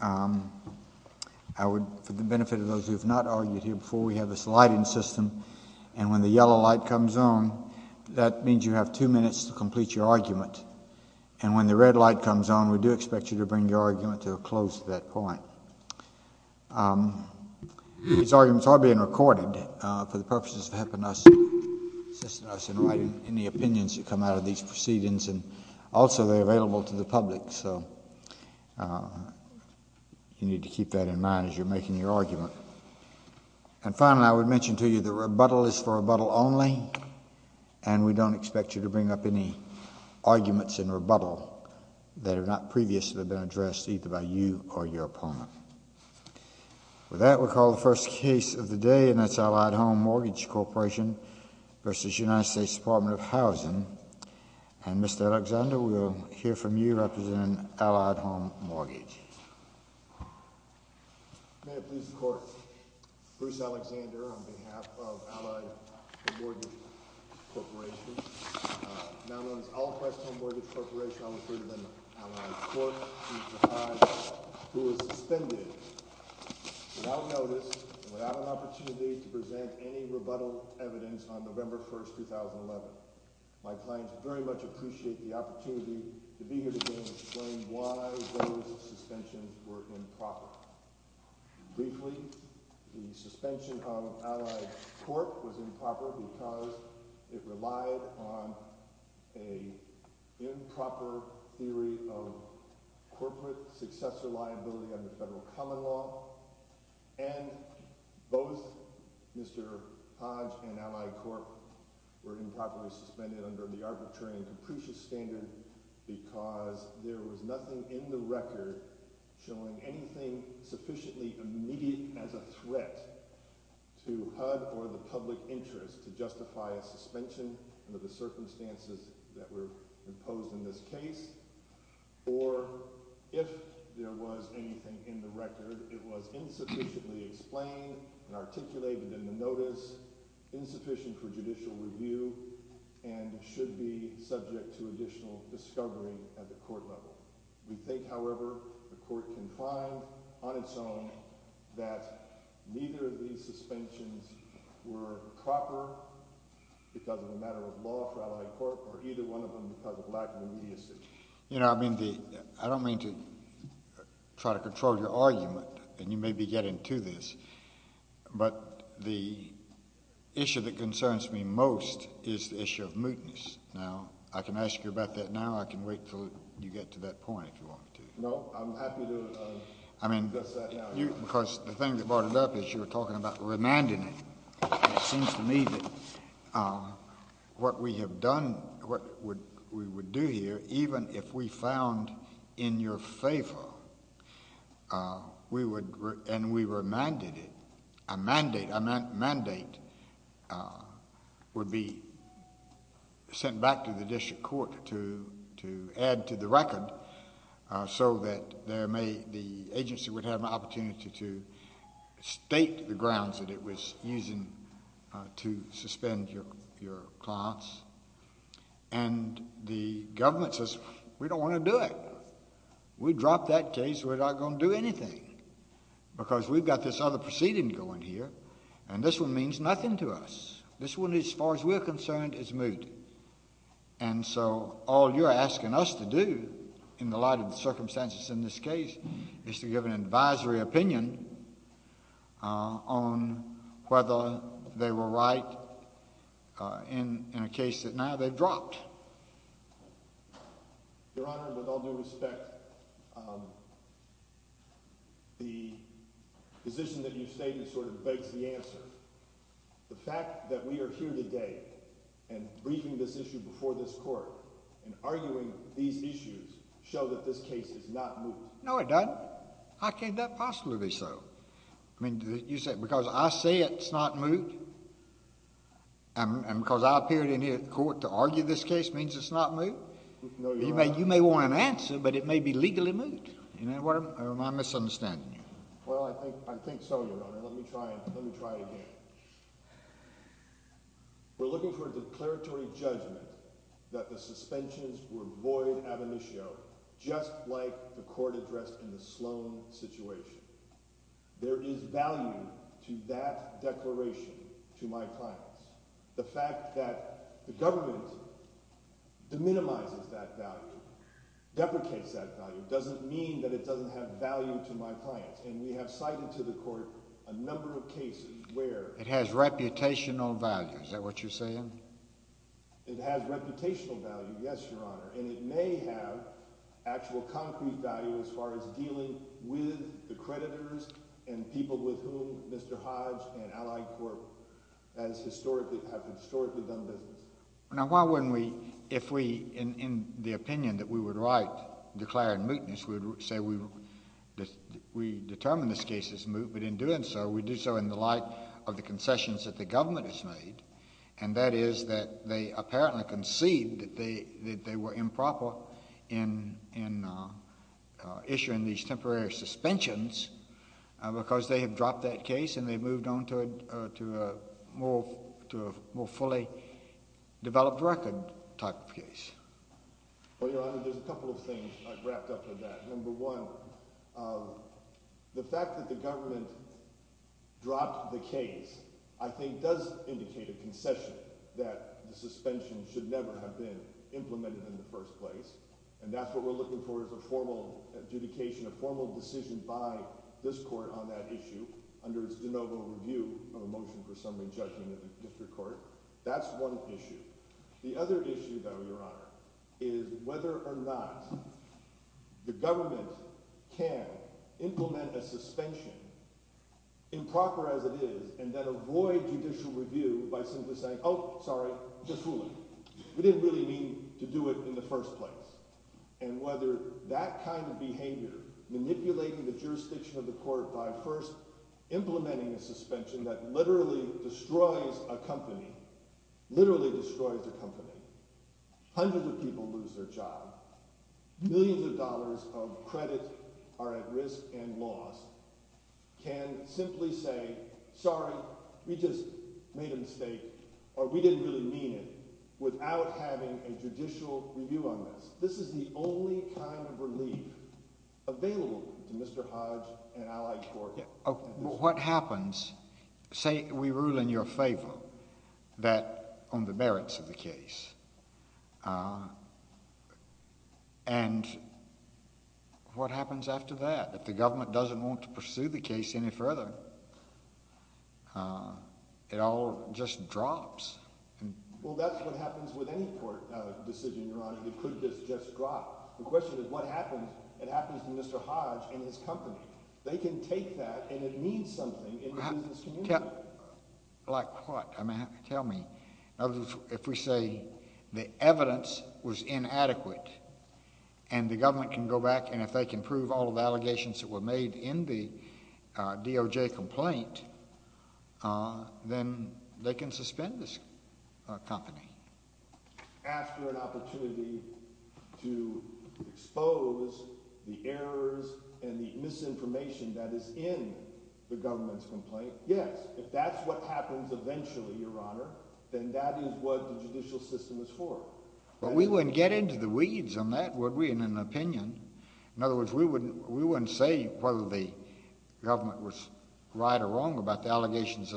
I would, for the benefit of those who have not argued here before, we have this lighting system and when the yellow light comes on, that means you have two minutes to complete your argument. And when the red light comes on, we do expect you to bring your argument to a close at that point. These arguments are being recorded for the purposes of assisting us in writing any opinions that come out of these proceedings, and also they are available to the public, so you need to keep that in mind as you are making your argument. And finally, I would mention to you that rebuttal is for rebuttal only, and we don't expect you to bring up any arguments in rebuttal that have not previously been addressed, either by you or your opponent. With that, we'll call the first case of the day, and that's Allied Home Mortgage Corporation v. United States Department of Housing, and Mr. Alexander, we'll hear from you representing Allied Home Mortgage. May it please the Court, Bruce Alexander on behalf of Allied Home Mortgage Corporation, now known as All Press Home Mortgage Corporation, I'll refer you to the Allied Court v. HUD, who is suspended without notice and without an opportunity to present any rebuttal evidence on November 1, 2011. My clients very much appreciate the opportunity to be here today and explain why those suspensions were improper. Briefly, the suspension of Allied Court was improper because it relied on an improper theory of corporate successor liability under federal common law, and both Mr. Hodge and Mr. Allied Court were improperly suspended under the arbitrary and capricious standard because there was nothing in the record showing anything sufficiently immediate as a threat to HUD or the public interest to justify a suspension under the circumstances that were imposed in this case, or if there was anything in the record, it was insufficiently explained and articulated in the notice, insufficient for judicial review, and should be subject to additional discovery at the court level. We think, however, the court can claim on its own that neither of these suspensions were improper because of the matter of law for Allied Court, or either one of them because of lack of immediacy. I don't mean to try to control your argument, and you may be getting to this, but the issue that concerns me most is the issue of mootness. Now, I can ask you about that now, or I can wait until you get to that point if you want to. No. I'm happy to discuss that now. Because the thing that brought it up is you were talking about remanding it. It seems to me that what we have done, what we would do here, even if we found in your favor, and we remanded it, a mandate would be sent back to the district court to add to the record so that the agency would have an opportunity to state the grounds that it was using to suspend your clients. And the government says, we don't want to do it. We dropped that case. We're not going to do anything. Because we've got this other proceeding going here, and this one means nothing to us. This one, as far as we're concerned, is moot. And so all you're asking us to do, in the light of the circumstances in this case, is to give an advisory opinion on whether they were right in a case that now they've dropped. Your Honor, with all due respect, the position that you've stated sort of begs the answer. The fact that we are here today and briefing this issue before this court and arguing these issues show that this case is not moot. No, it doesn't. How can that possibly be so? I mean, you say, because I say it's not moot, and because I appeared in here at court to argue this case means it's not moot? No, Your Honor. You may want an answer, but it may be legally moot. Am I misunderstanding you? Well, I think so, Your Honor. Let me try again. We're looking for a declaratory judgment that the suspensions were voided out of the show, just like the court addressed in the Sloan situation. There is value to that declaration to my clients. The fact that the government deminimizes that value, deprecates that value, doesn't mean that it doesn't have value to my clients. And we have cited to the court a number of cases where— It has reputational value. Is that what you're saying? It has reputational value, yes, Your Honor. And it may have actual concrete value as far as dealing with the creditors and people with whom Mr. Hodge and Allied Corp. have historically done business. Now, why wouldn't we, if we, in the opinion that we would write declaring mootness, we would say we determined this case is moot, but in doing so, we do so in the light of the concessions that the government has made, and that is that they apparently concede that they were improper in issuing these temporary suspensions because they have dropped that case and they've moved on to a more fully developed record type of case. Well, Your Honor, there's a couple of things I've wrapped up in that. Number one, the fact that the government dropped the case, I think, does indicate a concession that the suspension should never have been implemented in the first place, and that's what we're looking for, is a formal adjudication, a formal decision by this court on that issue under its de novo review of a motion for summary judgment at the court. That's one issue. The other issue, though, Your Honor, is whether or not the government can implement a suspension improper as it is, and then avoid judicial review by simply saying, oh, sorry, just ruling. We didn't really mean to do it in the first place. And whether that kind of behavior, manipulating the jurisdiction of the court by first implementing a suspension that literally destroys a company, literally destroys a company, hundreds of people lose their job, millions of dollars of credit are at risk and lost, can simply say, sorry, we just made a mistake, or we didn't really mean it, without having a judicial review on this. This is the only kind of relief available to Mr. Hodge and Allied Court. What happens, say we rule in your favor on the merits of the case, and what happens after that? If the government doesn't want to pursue the case any further, it all just drops. Well, that's what happens with any court decision, Your Honor. It could just drop. The question is, what happens? It happens to Mr. Hodge and his company. They can take that, and it means something in this community. Like what? I mean, tell me. If we say the evidence was inadequate, and the government can go back, and if they can prove all the allegations that were made in the DOJ complaint, then they can suspend this company. After an opportunity to expose the errors and the misinformation that is in the government's complaint, yes. If that's what happens eventually, Your Honor, then that is what the judicial system is for. But we wouldn't get into the weeds on that, would we, in an opinion? In other words, we wouldn't say whether the government was right or wrong about the allegations.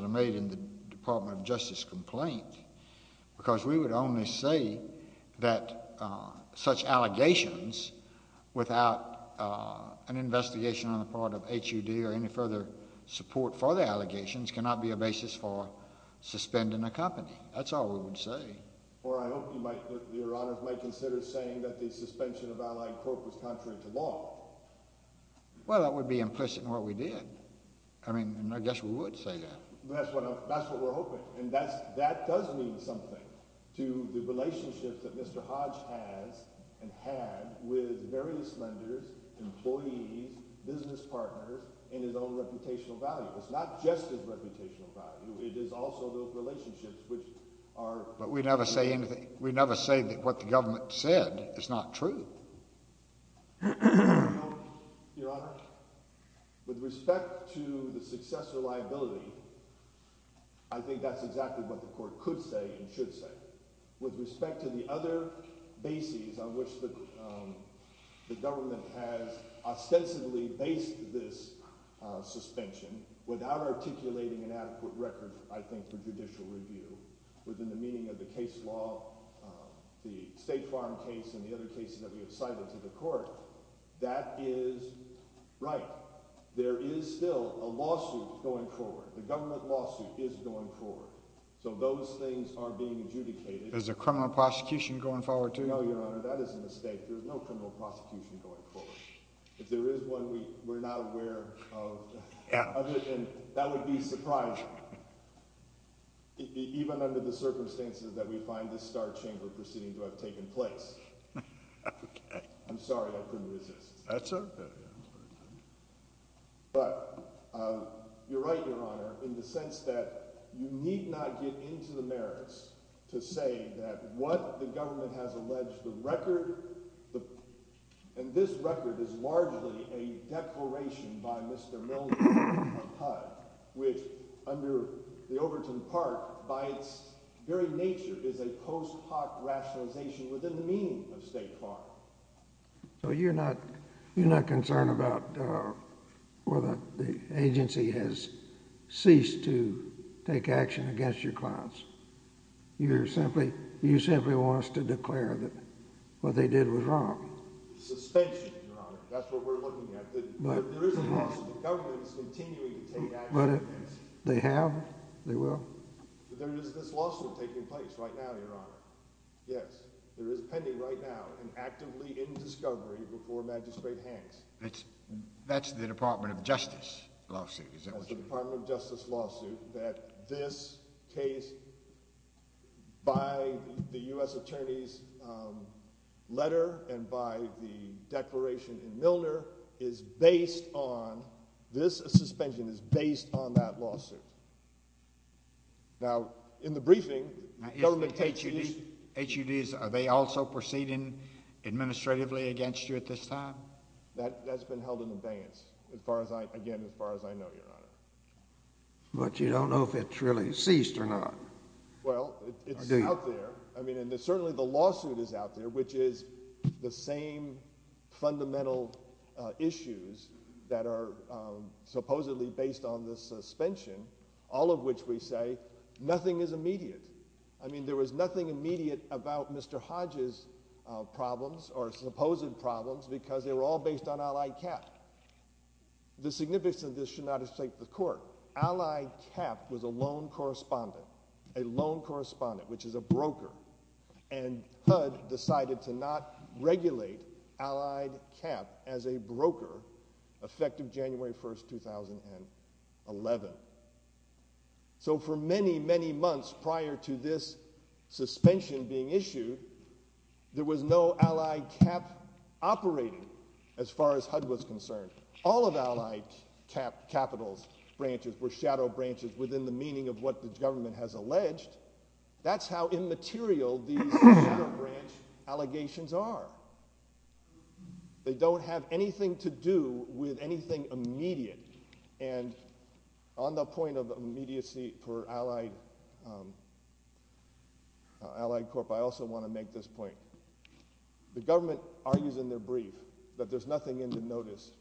We would only say that such allegations, without an investigation on the part of HUD or any further support for the allegations, cannot be a basis for suspending a company. That's all we would say. Or I hope, Your Honor, you might consider saying that the suspension of Allied Corp. was contrary to law. Well, that would be implicit in what we did. I mean, I guess we would say that. That's what we're hoping. And that does mean something to the relationship that Mr. Hodge has and had with various lenders, employees, business partners, and his own reputational value. It's not just his reputational value. It is also those relationships which are... But we never say anything. We never say that what the government said is not true. Your Honor, with respect to the successor liability, I think that's exactly what the Court could say and should say. With respect to the other bases on which the government has ostensibly based this suspension, without articulating an adequate record, I think, for judicial review, within the meaning of the case law, the State Farm case, and the other cases that we have cited to the Court, that is right. There is still a lawsuit going forward. The government lawsuit is going forward. So those things are being adjudicated. Is there criminal prosecution going forward, too? No, Your Honor, that is a mistake. There is no criminal prosecution going forward. If there is one, we're not aware of it. And that would be surprising. Even under the circumstances that we find this Star Chamber proceeding to have taken place. I'm sorry, I couldn't resist. That's okay. But, you're right, Your Honor, in the sense that you need not get into the merits to say that what the government has alleged, the record, and this record is largely a declaration by Mr. Milner from HUD, which under the Overton part, by its very nature, is a post hoc rationalization within the meaning of State Farm. So you're not concerned about whether the agency has ceased to take action against your clients? You simply want us to declare that what they did was wrong? Suspension, Your Honor. That's what we're looking at. There is a lawsuit. The government is continuing to take action against them. They have? They will? There is this lawsuit taking place right now, Your Honor. Yes. It is pending right now and actively in discovery before Magistrate Hanks. That's the Department of Justice lawsuit? That's the Department of Justice lawsuit that this case, by the U.S. Attorney's letter and by the declaration of Milner, is based on, this suspension is based on that lawsuit. Now, in the briefing, the government takes these... Now, isn't HUD, are they also proceeding administratively against you at this time? That's been held in abeyance, as far as I, again, as far as I know, Your Honor. But you don't know if it's really ceased or not? Well, it's out there. I mean, and certainly the lawsuit is out there, which is the same fundamental issues that are supposedly based on this suspension, all of which we say nothing is immediate. I mean, there was nothing immediate about Mr. Hodge's problems, or supposed problems, because they were all based on Allied Cap. The significance of this should not escape the court. Allied Cap was a loan correspondent, a loan correspondent, which is a broker, and HUD decided to not regulate Allied Cap as a broker, effective January 1st, 2011. So for many, many months prior to this suspension being issued, there was no Allied Cap operating, as far as HUD was concerned. All of Allied Cap's capital branches were shadow branches within the meaning of what the government has alleged. That's how immaterial these shadow branch allegations are. They don't have anything to do with anything immediate. And on the point of immediacy for Allied Corp., I also want to make this point. The government argues in their brief that there's nothing in the notice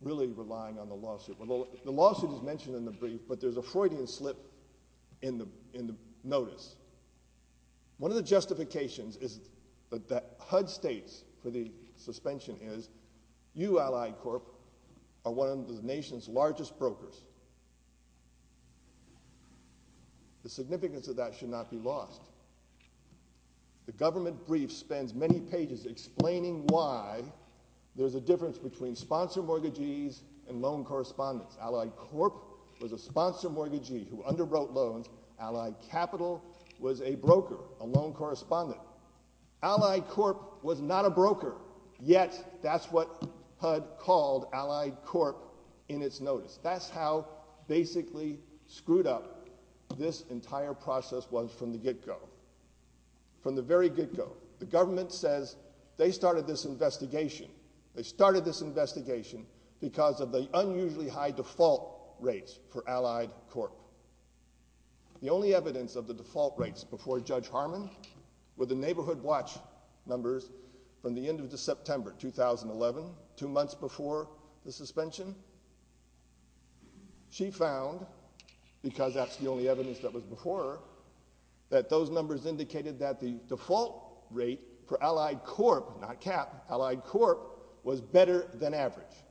really relying on the lawsuit. The lawsuit is mentioned in the brief, but there's a Freudian slip in the notice. One of the justifications that HUD states for the suspension is, you, Allied Corp., are one of the nation's largest brokers. The significance of that should not be lost. The government brief spends many pages explaining why there's a difference between sponsor mortgagees and loan correspondents. Allied Corp. was a sponsor mortgagee who underwrote loans. Allied Capital was a broker, a loan correspondent. Allied Corp. was not a broker. Yet, that's what HUD called Allied Corp. in its notice. That's how basically screwed up this entire process was from the get-go. From the very get-go. The government says they started this investigation. They started this investigation because of the unusually high default rates for Allied Corp. The only evidence of the default rates before Judge Harmon were the neighborhood watch numbers from the end of September 2011, two months before the suspension. She found, because that's the only evidence that was before her, that those numbers indicated that the default rate for Allied Corp. not CAP, Allied Corp. was better than average.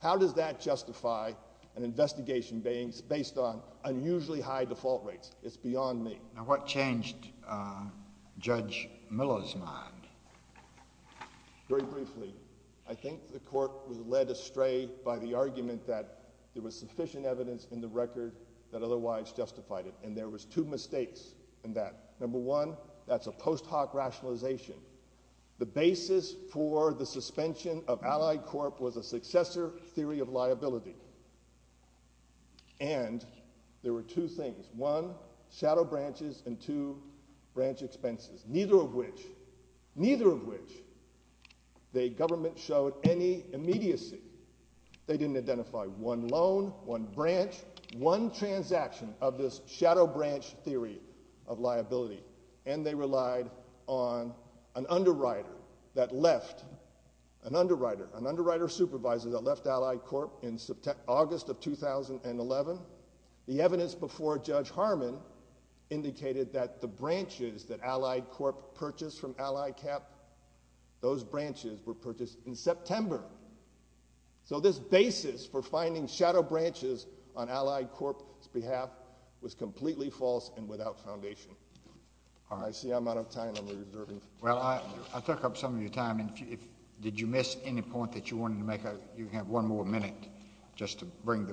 How does that justify an investigation based on unusually high default rates? It's beyond me. Now what changed Judge Miller's mind? Very briefly. I think the court was led astray by the argument that there was sufficient evidence in the record that otherwise justified it. And there was two mistakes in that. Number one, that's a post hoc rationalization. The basis for the suspension of Allied Corp. was a successor theory of liability. And there were two things. One, shadow branches, and two, branch expenses. Neither of which, neither of which, the government showed any immediacy. They didn't identify one loan, one branch, one transaction of this shadow branch theory of liability. And they relied on an underwriter that left, an underwriter, an underwriter supervisor that left Allied Corp. in August of 2011. The evidence before Judge Harmon indicated that the branches that Allied Corp. purchased from Allied CAP, those branches were purchased in September. So this basis for finding shadow branches on Allied Corp.'s behalf was completely false and without foundation. I see I'm out of time. Well, I took up some of your time. Did you miss any point that you wanted to make? You can have one more minute just to bring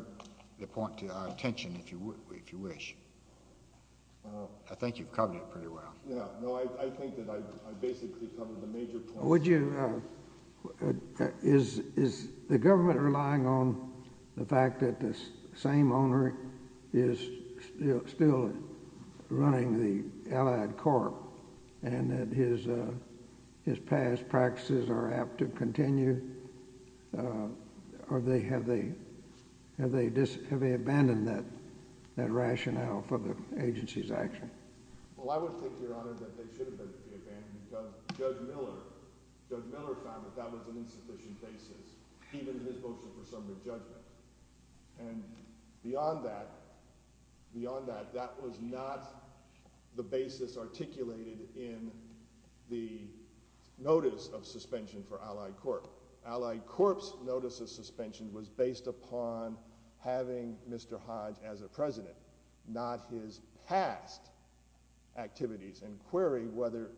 the point to our attention if you wish. I think you covered it pretty well. No, I think that I basically covered the major point. Would you, is the government relying on the fact that the same owner is still running the Allied Corp. and that his past practices are apt to continue? Have they abandoned that rationale for the agency's action? Well, I would think, Your Honor, that they should have been because Judge Miller found that that was an insufficient basis. Even his votes were for some to judge them. And beyond that, that was not the basis articulated in the notice of suspension for Allied Corp. Allied Corp.'s notice of suspension was based upon having Mr. Hodge as a president, not his past activities. And query whether,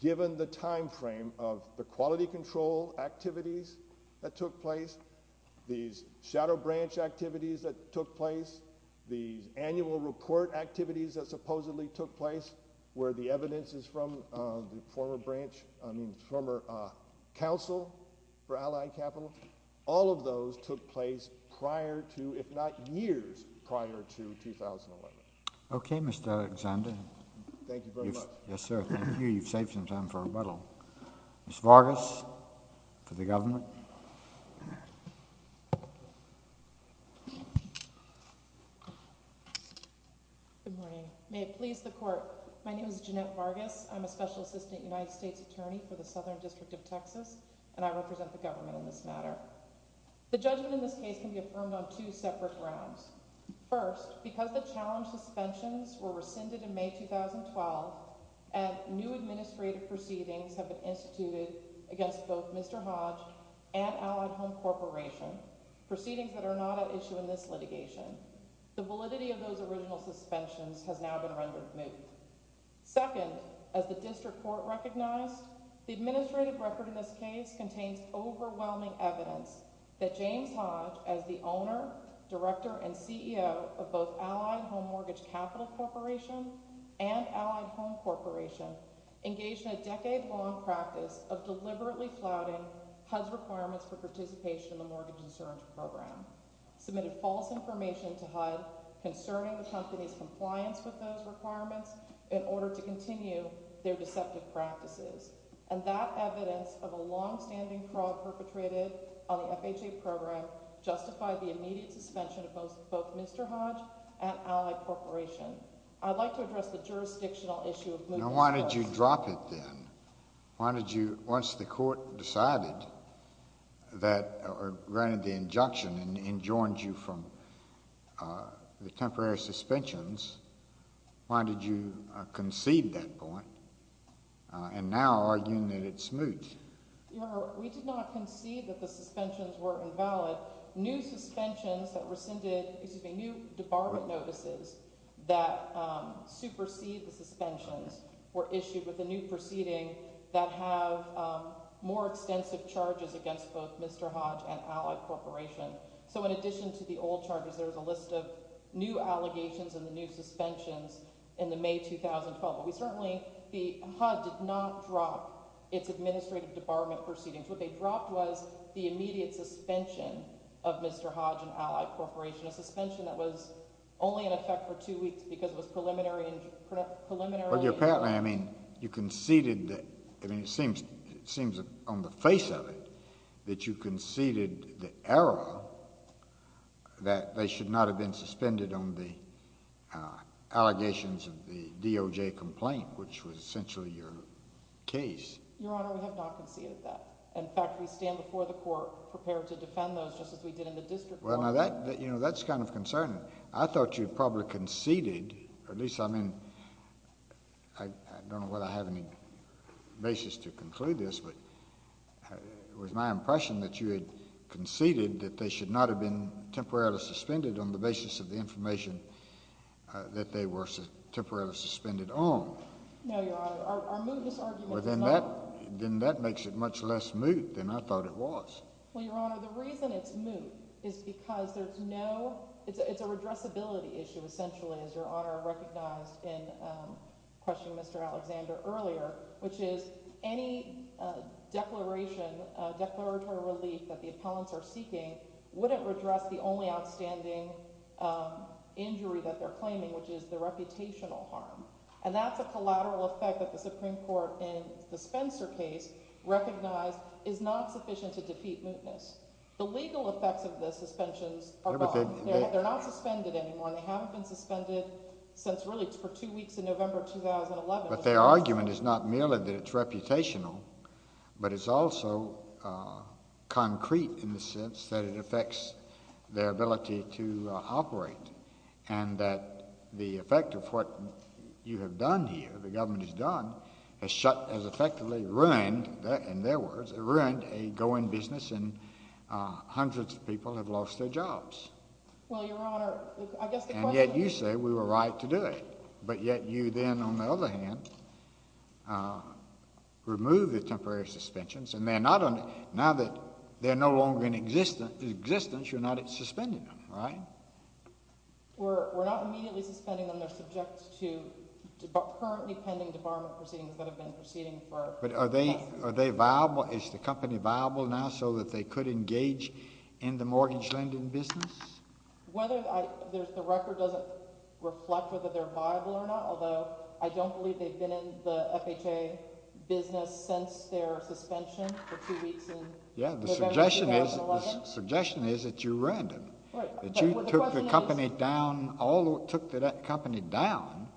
given the time frame of the quality control activities that took place, these shadow branch activities that took place, these annual report activities that supposedly took place where the evidence is from the former branch, I mean, former council for Allied Capital, all of those took place prior to, if not years prior to, 2011. Okay, Mr. Alexander. Thank you very much. Yes, sir. Thank you. You've saved some time for rebuttal. Ms. Vargas for the government. Good morning. May it please the Court. My name is Jeanette Vargas. I'm a Special Assistant United States Attorney for the Southern District of Texas, and I represent the government in this matter. The judgment in this case can be affirmed on two separate grounds. First, because the challenge suspensions were rescinded in May 2012 and new administrative proceedings have been instituted against both Mr. Hodge and Allied Home Corporation, proceedings that are not at issue in this litigation. The validity of those original suspensions has now been rendered moot. Second, as the District Court recognized, the administrative record in this case contains overwhelming evidence that James Hodge, as the owner, director, and CEO of both Allied Home Mortgage Capital Corporation and Allied Home Corporation engaged in a decade-long practice of deliberately flouting HUD's requirements for participation in the Mortgage Insurance Program, submitted false information to HUD concerning the company's compliance with those requirements in order to continue their deceptive practices. And that evidence of a longstanding fraud perpetrated on the FHA program justified the immediate suspension of both Mr. Hodge and Allied Corporation. I'd like to address the jurisdictional issue of moving the case. Now why did you drop it then? Why did you, once the court decided that, or granted the injunction and enjoined you from the temporary suspensions, why did you concede that point and now arguing that it's moot? Your Honor, we did not concede that the suspensions were invalid. New suspensions that rescinded, excuse me, new department notices that supersede the suspensions were issued with a new proceeding that have more extensive charges against both Mr. Hodge and Allied Corporation. So in addition to the old charges, there's a list of new allegations and the new suspensions in the May 2012. We certainly, HUD did not drop its administrative debarment proceedings. What they dropped was the immediate suspension of Mr. Hodge and Allied Corporation, a suspension that was only in effect for two weeks because it was preliminary. But apparently, I mean, you conceded, it seems on the face of it, that you conceded the error that they should not have been suspended on the allegations of the DOJ complaint, which was essentially your case. Your Honor, we have not conceded that. In fact, we stand before the court prepared to defend those just as we did in the district court. Well, now that, you know, that's kind of concerning. I thought you probably conceded, or at least, I mean, I don't know whether I have any basis to conclude this, but it was my impression that you had conceded that they should not have been temporarily suspended on the basis of the information that they were temporarily suspended on. No, Your Honor, our mootness argument is not. Then that makes it much less moot than I thought it was. Well, Your Honor, the reason it's moot is because there's no, it's a redressability issue, essentially, as Your Honor recognized in questioning Mr. Alexander earlier, which is any declaration, declaratory relief that the appellants are seeking wouldn't redress the only outstanding injury that they're claiming, which is the reputational harm. And that's a collateral effect that the Supreme Court in the Spencer case recognized is not sufficient to defeat mootness. The legal effects of the suspensions are gone. They're not suspended anymore, and they haven't been suspended since really for two weeks in November 2011. But their argument is not merely that it's reputational, but it's also concrete in the sense that it affects their ability to operate, and that the effect of what you have done here, the government has done, has shut, has effectively ruined, in their words, ruined a going business, and hundreds of people have lost their jobs. Well, Your Honor, I guess the question is... And yet you say we were right to do it. But yet you then, on the other hand, remove the temporary suspensions, and they're not under, now that they're no longer in existence, you're not suspending them, right? We're not immediately suspending them. They're subject to currently pending debarment proceedings that have been proceeding for... But are they viable? Is the company viable now so that they could engage in the mortgage lending business? The record doesn't reflect whether they're viable or not, although I don't believe they've been in the FHA business since their suspension for two weeks in November 2011. Yeah, the suggestion is that you ruined them. That you took the company down, all that took that company down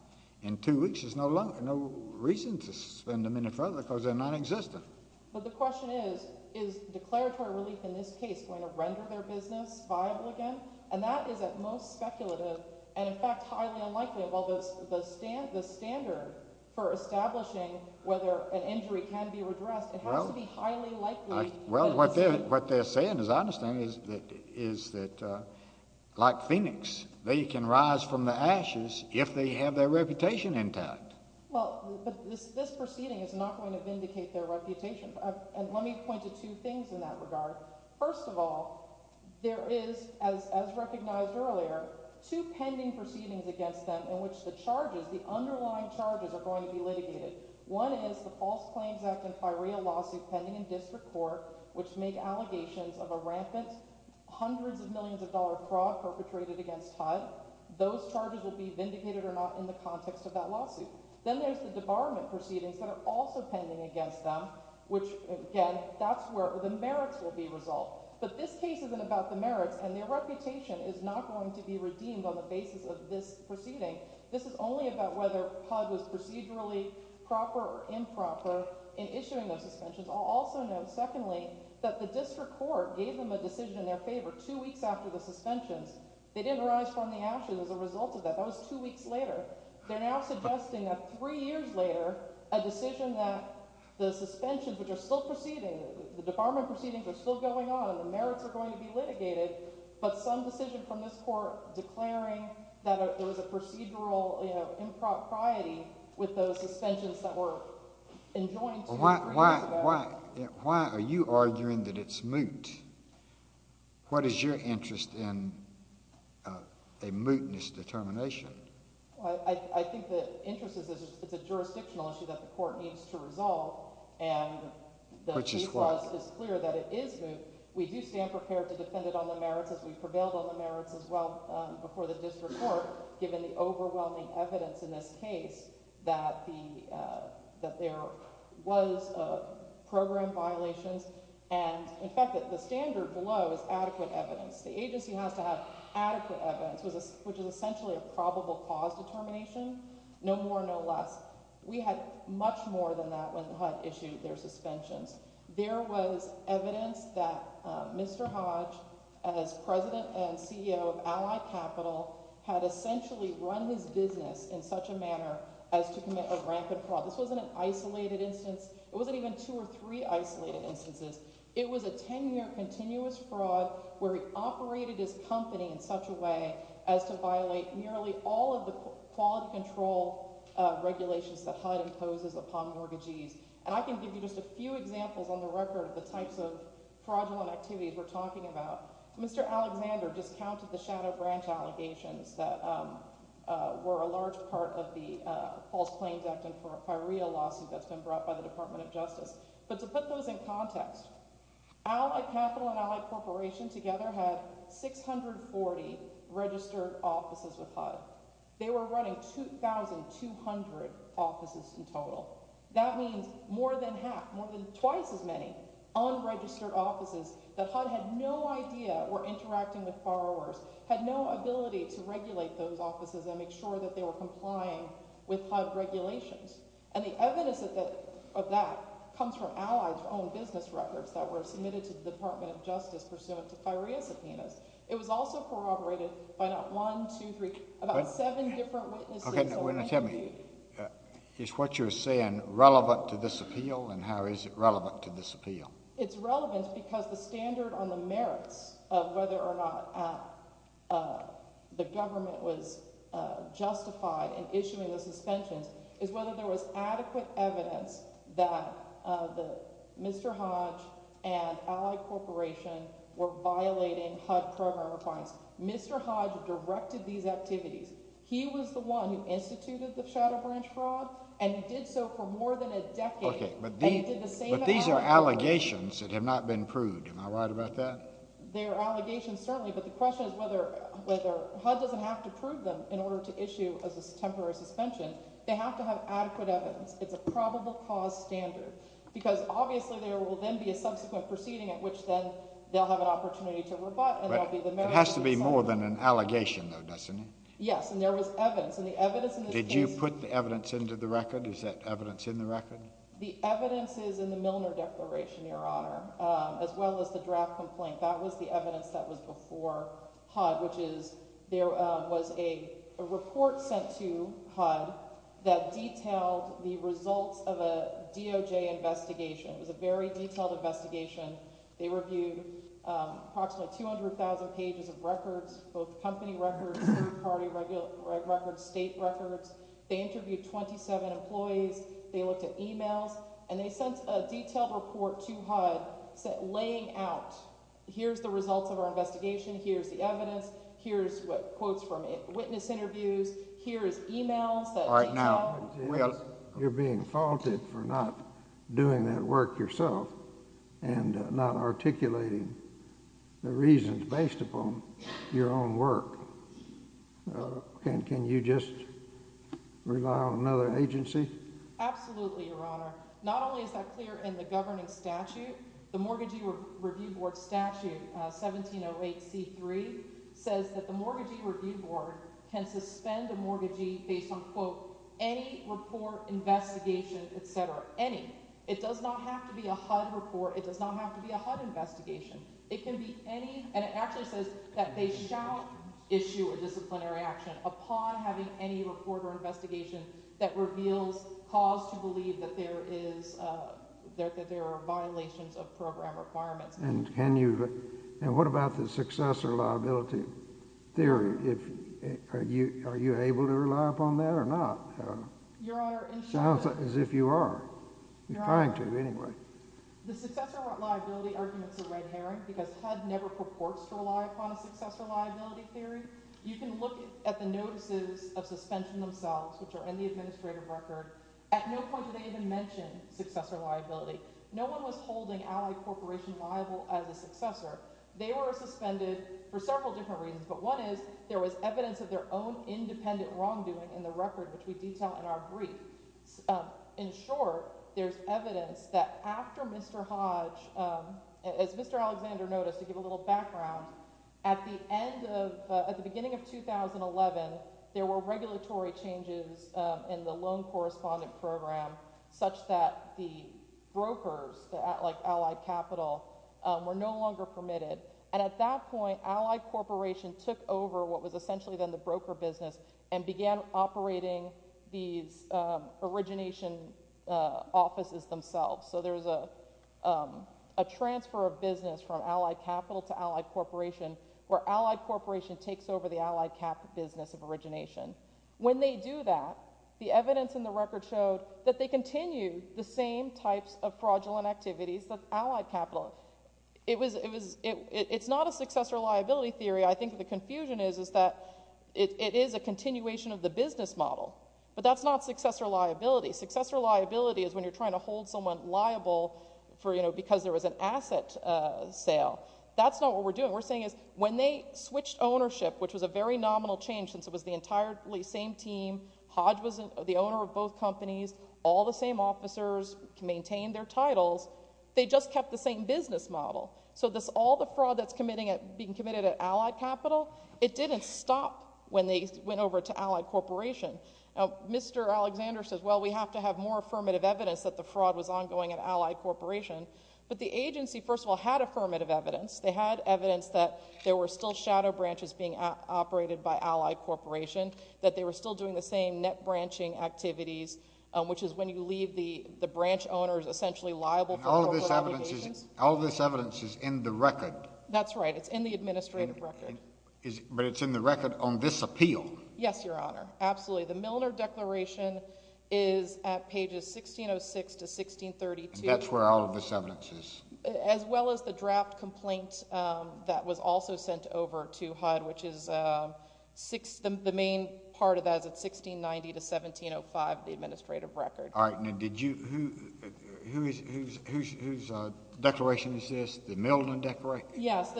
in two weeks is no longer, no reason to suspend them any further because they're non-existent. But the question is, is declaratory relief in this case going to render their business viable again? And that is at most speculative, and in fact highly unlikely. While the standard for establishing whether an injury can be redressed, it has to be highly likely... Well, what they're saying, as I understand it, is that, like Phoenix, they can rise from the ashes if they have their reputation intact. Well, but this proceeding is not going to vindicate their reputation. And let me point to two things in that regard. First of all, there is, as recognized earlier, two pending proceedings against them in which the charges, the underlying charges, are going to be litigated. One is the False Claims Act and FIREA lawsuit pending in district court, which make allegations of a rampant, hundreds of millions of dollars fraud perpetrated against HUD. Those charges will be vindicated or not in the context of that lawsuit. Then there's the debarment proceedings that are also pending against them, which, again, that's where the merits will be resolved. But this case isn't about the merits, and their reputation is not going to be redeemed on the basis of this proceeding. This is only about whether HUD was procedurally proper or improper in issuing those suspensions. I'll also note, secondly, that the district court gave them a decision in their favor two weeks after the suspensions. They didn't rise from the ashes as a result of that. That was two weeks later. They're now suggesting that three years later, a decision that the suspensions, which are still proceeding, the debarment proceedings are still going on, and the merits are going to be litigated, but some decision from this court declaring that there was a procedural, you know, impropriety with those suspensions that were enjoined two or three years ago. Why are you arguing that it's moot? What is your interest in a mootness determination? I think the interest is that it's a jurisdictional issue that the court needs to resolve, and the Chief's Clause is clear that it is moot. We do stand prepared to defend it on the merits as we prevailed on the merits as well before the district court, given the overwhelming evidence in this case that there was program violations, and in fact, the standard below is adequate evidence. The agency has to have adequate evidence, which is essentially a probable cause determination, no more, no less. We had much more than that when the HUD issued their suspensions. There was evidence that Mr. Hodge, as President and CEO of Allied Capital, had essentially run his business in such a manner as to commit a rampant fraud. This wasn't an isolated instance. It wasn't even two or three isolated instances. It was a 10-year continuous fraud where he operated his company in such a way as to violate nearly all of the quality control regulations that HUD imposes upon mortgagees. And I can give you just a few examples on the record of the types of fraudulent activities we're talking about. Mr. Alexander discounted the shadow branch allegations that were a large part of the False Claims Act and Firea lawsuit that's been brought by the Department of Justice. But to put those in context, Allied Capital and Allied Corporation together had 640 registered offices with HUD. They were running 2,200 offices in total. That means more than half, more than twice as many unregistered offices that HUD had no idea were interacting with borrowers, had no ability to regulate those offices and make sure that they were complying with HUD regulations. And the evidence of that comes from Allied's own business records that were submitted to the Department of Justice pursuant to Firea's subpoenas. It was also corroborated by not one, two, three, about seven different witnesses. Okay, now tell me, is what you're saying relevant to this appeal and how is it relevant to this appeal? It's relevant because the standard on the merits of whether or not the government was justified in issuing the suspensions is whether there was adequate evidence that Mr. Hodge and Allied Corporation were violating HUD program requirements. Mr. Hodge directed these activities. He was the one who instituted the Shadow Branch fraud and he did so for more than a decade. Okay, but these are allegations that have not been proved. Am I right about that? They're allegations, certainly, but the question is whether HUD doesn't have to prove them in order to issue a temporary suspension. They have to have adequate evidence. It's a probable cause standard because obviously there will then be a subsequent proceeding at which then they'll have an opportunity to rebut and there'll be the merits of the suspensions. It has to be more than an allegation though, doesn't it? Yes, and there was evidence. And the evidence in this case... Did you put the evidence into the record? Is that evidence in the record? The evidence is in the Milner Declaration, Your Honor, as well as the draft complaint. That was the evidence that was before HUD, which is there was a report sent to HUD that detailed the results of a DOJ investigation. It was a very detailed investigation. They reviewed approximately 200,000 pages of records, both company records, third-party records, state records. They interviewed 27 employees. They looked at emails. And they sent a detailed report to HUD laying out, here's the results of our investigation, here's the evidence, here's quotes from witness interviews, here's emails that they have. You're being faulted for not doing that work yourself and not articulating the reasons based upon your own work. Can you just rely on another agency? Absolutely, Your Honor. Not only is that clear in the governing statute, the Mortgagee Review Board statute, 1708C3, says that the Mortgagee Review Board can suspend a mortgagee based on, quote, any report, investigation, et cetera. Any. It does not have to be a HUD report. It does not have to be a HUD investigation. It can be any, and it actually says that they shall issue a disciplinary action upon having any report or investigation that reveals cause to believe that there are violations of program requirements. And can you, and what about the successor liability theory? Are you able to rely upon that or not? I don't know. Sounds as if you are. You're trying to, anyway. The successor liability argument's a red herring because HUD never purports to rely upon a successor liability theory. You can look at the notices of suspension themselves, which are in the administrative record. At no point do they even mention successor liability. No one was holding Allied Corporation liable as a successor. They were suspended for several different reasons, but one is there was evidence of their own independent wrongdoing in the record, which we detail in our brief. In short, there's evidence that after Mr. Hodge, as Mr. Alexander noticed, to give a little background, at the end of, at the beginning of 2011, there were regulatory changes in the loan correspondent program such that the brokers, like Allied Capital, were no longer permitted. And at that point, Allied Corporation took over what was essentially then the broker business and began operating these origination offices themselves. So there's a transfer of business from Allied Capital to Allied Corporation where Allied Corporation takes over the Allied Capital business of origination. When they do that, the evidence in the record showed that they continue the same types of fraudulent activities with Allied Capital. It's not a successor liability theory. I think the confusion is that it is a continuation of the business model, but that's not successor liability. Successor liability is when you're trying to hold someone liable because there was an asset sale. That's not what we're doing. When they switched ownership, which was a very nominal change since it was the entirely same team, Hodge was the owner of both companies, all the same officers, maintained their titles, they just kept the same business model. So all the fraud that's being committed at Allied Capital, it didn't stop when they went over to Allied Corporation. Mr. Alexander says, we have to have more affirmative evidence that the fraud was ongoing at Allied Corporation, but the agency, first of all, had affirmative evidence. They had evidence that there were still shadow branches being operated by Allied Corporation, that they were still doing the same net-branching activities, which is when you leave the branch owners essentially liable for corporate obligations. All this evidence is in the record. That's right. It's in the administrative record. But it's in the record on this appeal. Yes, Your Honor. Absolutely. The Milner Declaration is at pages 1606 to 1632. And that's where all of this evidence is. As well as the draft complaint that was also sent over to HUD, which is the main part of that is at 1690 to 1705, the administrative record. All right, now did you, whose declaration is this? The Milner Declaration? Yes.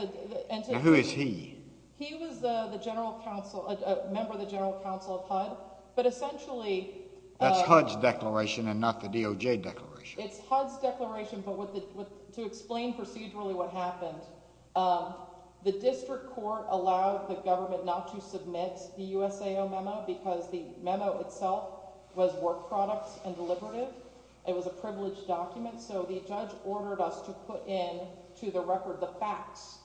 And who is he? He was the member of the General Council of HUD. But essentially... That's HUD's declaration and not the DOJ declaration. It's HUD's declaration, but to explain procedurally what happened, the district court allowed the government not to submit the USAO memo because the memo itself was work products and deliberative. It was a privileged document, so the judge ordered us to put in to the record the facts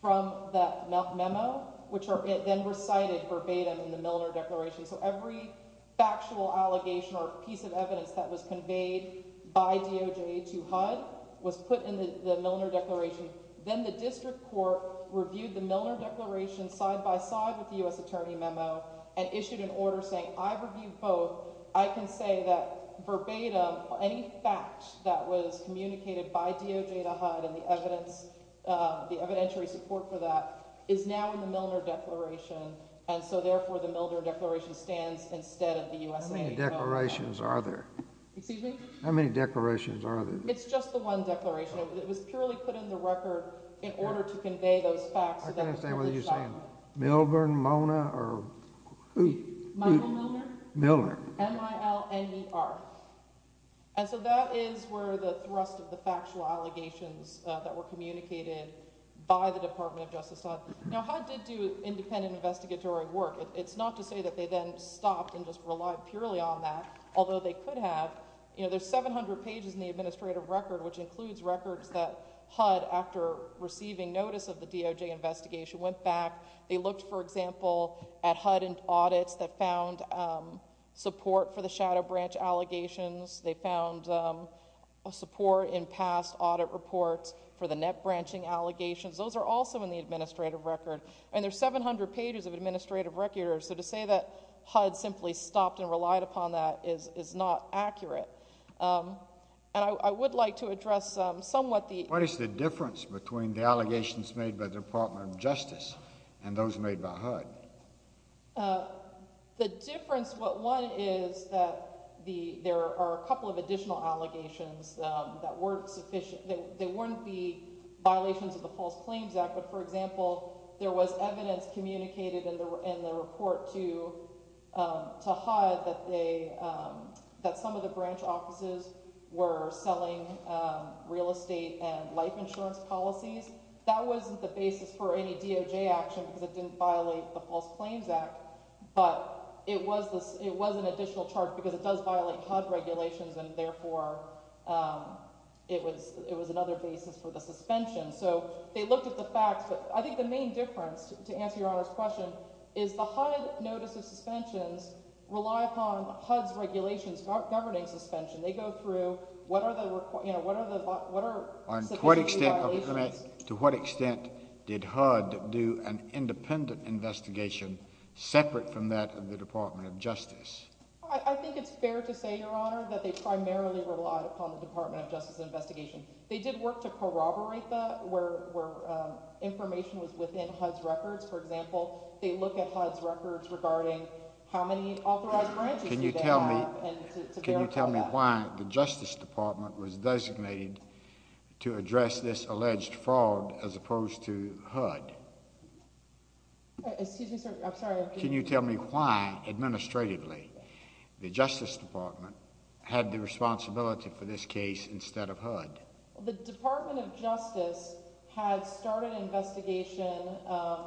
from that memo, which were then recited verbatim in the Milner Declaration. So every factual allegation or piece of evidence that was conveyed by DOJ to HUD was put in the Milner Declaration. Then the district court reviewed the Milner Declaration side-by-side with the US Attorney memo and issued an order saying, I've reviewed both, I can say that verbatim any fact that was communicated by DOJ to HUD and the evidence, the evidentiary support for that is now in the Milner Declaration and so therefore the Milner Declaration stands instead of the USAO. How many declarations are there? Excuse me? How many declarations are there? It's just the one declaration. It was purely put in the record in order to convey those facts. I didn't understand what you were saying. Milner? Milner. M-I-L-N-E-R. And so that is where the thrust of the Milner Declaration was. It was communicated by the Department of Justice. Now HUD did do independent investigatory work. It's not to say that they then stopped and just relied purely on that, although they could have. There's 700 pages in the administrative record which includes records that HUD, after receiving notice of the DOJ investigation, went back. They looked, for example, at HUD audits that found support for the shadow branch branching allegations. Those are also in the administrative record. And there's 700 pages of administrative records, so to say that HUD simply stopped and relied upon that is not accurate. And I would like to address somewhat the... What is the difference between the allegations made by the Department of Justice and those made by HUD? The difference, well, one is that there are a couple of additional allegations that weren't the violations of the False Claims Act, but for example, there was evidence communicated in the report to HUD that some of the branch offices were selling real estate and life insurance policies. That wasn't the basis for any DOJ action because it didn't violate the False Claims Act, but it was an additional charge because it does violate HUD regulations and therefore it was another basis for the suspension. So they looked at the facts, but I think the main difference, to answer Your Honor's question, is the HUD notice of suspensions rely upon HUD's regulations governing suspension. They go through, what are the violations... To what extent did HUD do an independent investigation separate from that of the Department of Justice? I think it's fair to say, Your Honor, that they primarily rely upon the Department of Justice's investigation. They did work to corroborate that where information was within HUD's records. For example, they look at HUD's records regarding how many authorized branches they have... Can you tell me why the Justice Department was designated to address this alleged fraud as opposed to HUD? Excuse me, sir. I'm sorry. Can you tell me why, administratively, the Justice Department had the responsibility for this case instead of HUD? The Department of Justice had started an investigation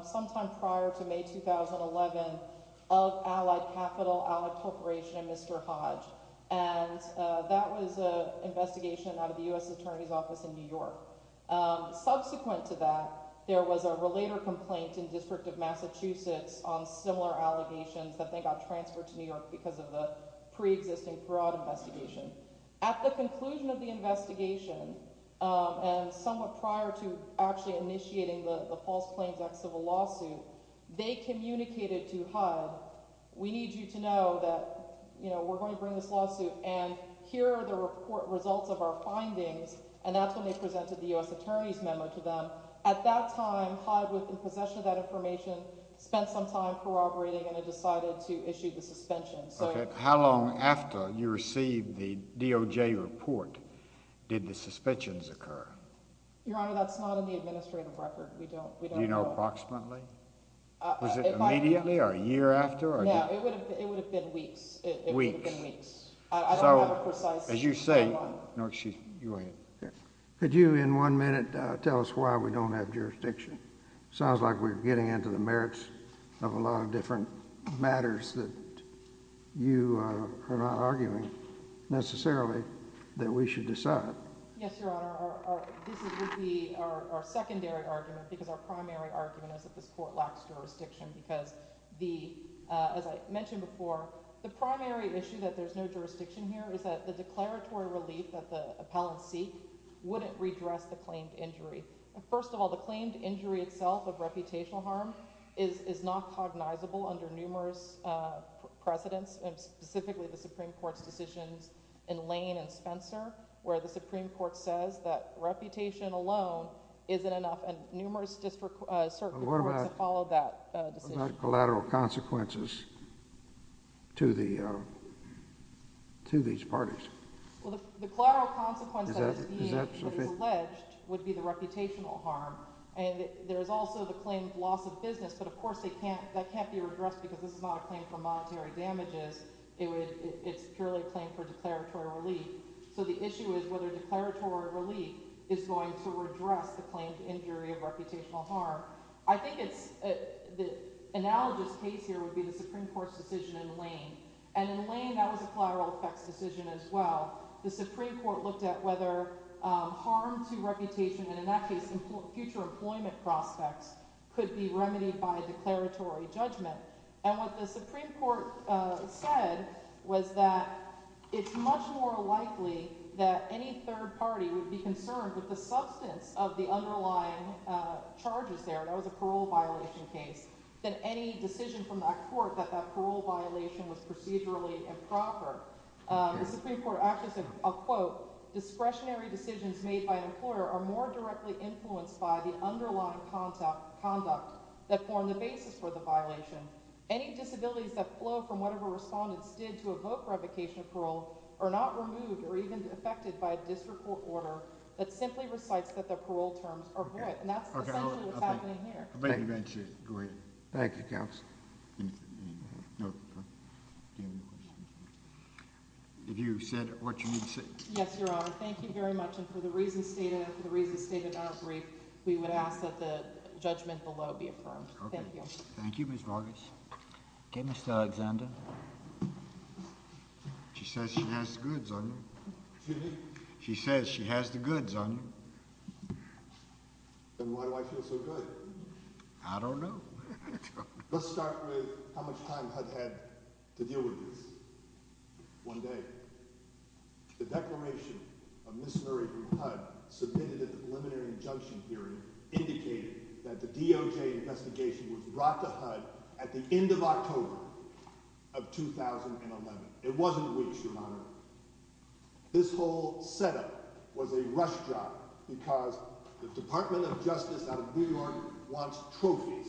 sometime prior to May 2011 of Allied Capital, Allied Corporation, and Mr. Hodge. And that was an investigation out of the U.S. Attorney's Office in New York. Subsequent to that, there was a related complaint in the District of Massachusetts on similar allegations that they got transferred to New York because of the pre-existing fraud investigation. At the conclusion of the investigation, and somewhat prior to actually initiating the false claims act civil lawsuit, they communicated to HUD, We need you to know that we're going to bring this lawsuit, and here are the results of our findings. And that's when they presented the U.S. Attorney's memo to them. At that time, HUD was in possession of that information, spent some time corroborating, and they decided to issue the suspension. How long after you received the DOJ report did the suspensions occur? Your Honor, that's not in the administrative record. We don't know. Do you know approximately? Was it immediately or a year after? It would have been weeks. I don't have a precise date. Could you in one minute tell us why we don't have jurisdiction? It sounds like we're getting into the merits of a lot of different matters that you are not arguing necessarily that we should decide. Yes, Your Honor. This would be our secondary argument because our primary argument is that this court lacks jurisdiction because the, as I mentioned before, the primary issue that there's no jurisdiction here is that the declaratory relief that the appellant seek wouldn't redress the claimed injury itself of reputational harm is not cognizable under numerous precedents and specifically the Supreme Court's decisions in Lane and Spencer where the Supreme Court says that reputation alone isn't enough and numerous circuit courts have followed that decision. What about collateral consequences to the, to these parties? The collateral consequence that is alleged would be the reputational harm and there's also the claimed loss of business but of course that can't be redressed because this is not a claim for monetary damages. It's purely a claim for declaratory relief so the issue is whether declaratory relief is going to redress the claimed injury of reputational harm. I think it's, the analogous case here would be the Supreme Court's decision in Lane and in Lane that was a collateral effects decision as well. The Supreme Court looked at whether harm to reputation and in that case future employment prospects could be remedied by declaratory judgment and what the Supreme Court said was that it's much more likely that any third party would be concerned with the substance of the underlying charges there and that was a parole violation case than any decision from that court that that parole violation was procedurally improper. The Supreme Court actually said, I'll quote, discretionary decisions made by an employer are more directly influenced by the underlying conduct that form the basis for the violation. Any disabilities that flow from whatever respondents did to evoke revocation of parole are not removed or even affected by a district court order that simply recites that the parole terms are void and that's essentially what's happening here. Thank you. Thank you counsel. No. Okay. If you said what you need to say. Yes, your honor. Thank you very much and for the reasons stated in our brief, we would ask that the judgment below be affirmed. Thank you. Thank you, Ms. Vargas. Okay, Mr. Alexander. She says she has the goods on me. She says she has the goods on me. Then why do I feel so good? I don't know. Let's start with how much time HUD had to deal with this one day. The declaration of Ms. Murray from HUD submitted an preliminary injunction hearing indicating that the DOJ investigation was brought to HUD at the end of October of 2011. It wasn't reached, your honor. This whole setup was a rush job because the Department of Justice out of New York wants trophies.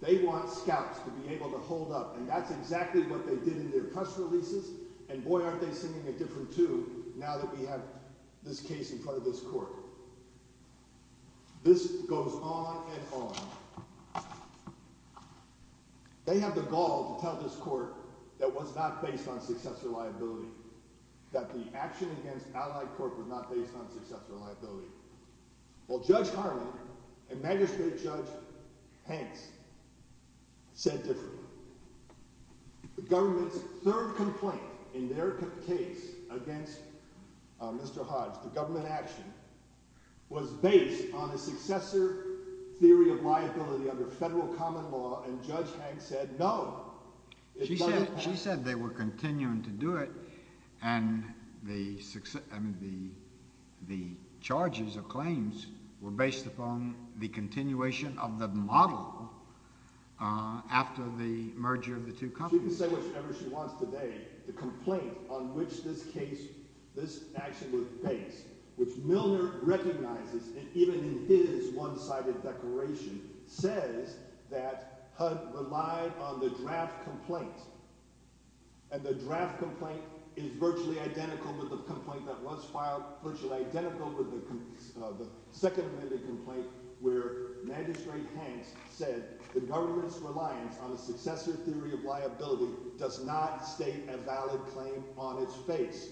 They want scouts to be able to hold up and that's exactly what they did in their press releases and boy aren't they singing a different tune now that we have this case in front of this court. This goes on and on. They have the gall to tell this court that was not based on successor liability, that the action against Allied Corp was not based on successor liability. Well Judge Harmon and Magistrate Judge Hanks said differently. The government's third complaint in their case against Mr. Hodge, the government action, was based on a successor theory of liability under federal common law and Judge Hanks said no. She said they were continuing to do it and the charges or claims were based upon the continuation of the model after the merger of the two companies. She can say whatever she wants today. The complaint on which this case, this action was based which Milner recognizes and even in his one-sided declaration says that Hodge relied on the draft complaint and the draft complaint is virtually identical with the complaint that was filed, virtually identical with the second amendment complaint where Magistrate Hanks said the government's reliance on a successor theory of liability does not state a valid claim on its face.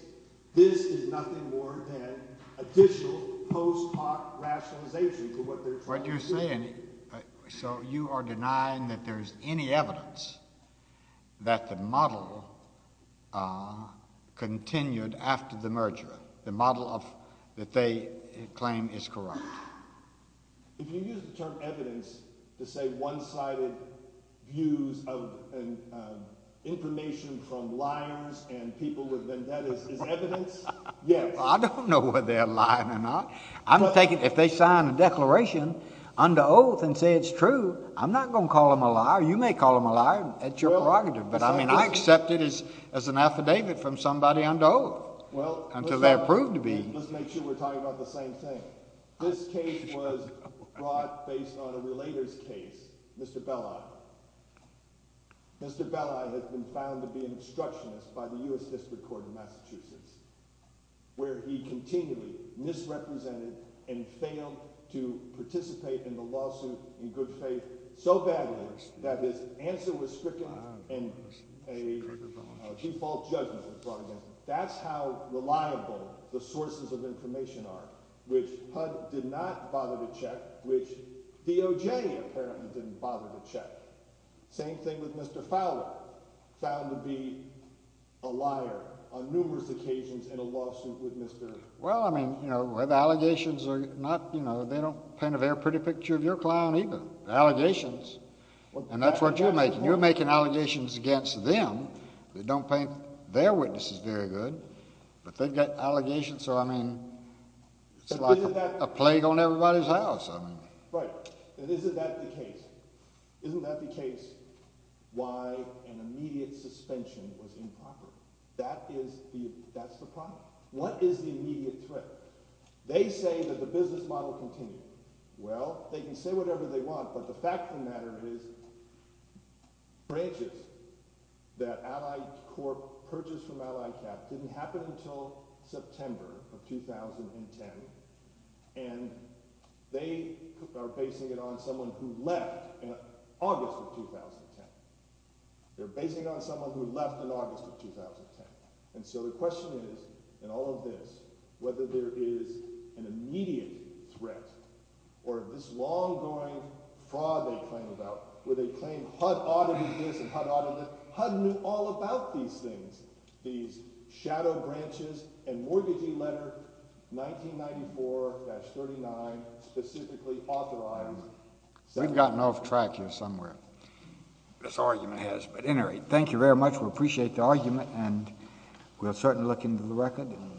This is nothing more than additional post hoc rationalization for what they're trying to do. What you're saying, so you are denying that there's any evidence that the model continued after the merger, the model that they claim is correct. If you use the term evidence to say one-sided views of information from liars and people with vendettas, is evidence? I don't know whether they're lying or not. I'm taking, if they sign a declaration under oath and say it's true, I'm not going to call them a liar. You may call them a liar. That's your prerogative. But I mean, I accept it as an affidavit from somebody under oath until they're proved to be. Let's make sure we're talking about the same thing. This case was brought based on a relator's case, Mr. Belli. Mr. Belli has been found to be an obstructionist by the U.S. District Court in Massachusetts where he continually misrepresented and failed to participate in the lawsuit in good faith so badly that his answer was a default judgment. That's how reliable the sources of information are, which HUD did not bother to check, which DOJ apparently didn't bother to check. Same thing with Mr. Fowler, found to be a liar on numerous occasions in a lawsuit with Mr. Well, I mean, the allegations are not, you know, they don't paint a very pretty picture of your client either, the allegations. And that's what you're making. You're making allegations against them that don't paint their witnesses very good, but they've got allegations so, I mean, it's like a plague on everybody's house. Right. Isn't that the case? Isn't that the case why an immediate suspension was improper? That is the problem. What is the immediate threat? They say that the business model continues. Well, they can say whatever they want, but the fact of the matter is branches that Allied Corp purchased from Allied Cap didn't happen until September of 2010 and they are basing it on someone who left in August of 2010. They're basing it on someone who left in August of 2010. And so the question is, in all of this, whether there is an immediate threat or this long-going fraud they claim about, where they claim HUD ought to do this and HUD ought to do this, HUD knew all about these things. These shadow branches and mortgagee letter 1994-39 specifically authorized We've gotten off track here somewhere. This argument has, but at any rate, thank you very much. We appreciate the argument and we'll certainly look into the record and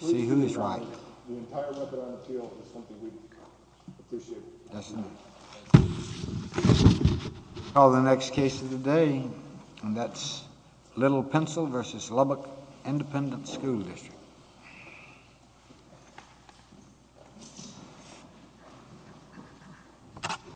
see who's right. The entire weapon on the field is something we appreciate. Well, the next case of the day and that's Little Pencil versus Lubbock Independent School District.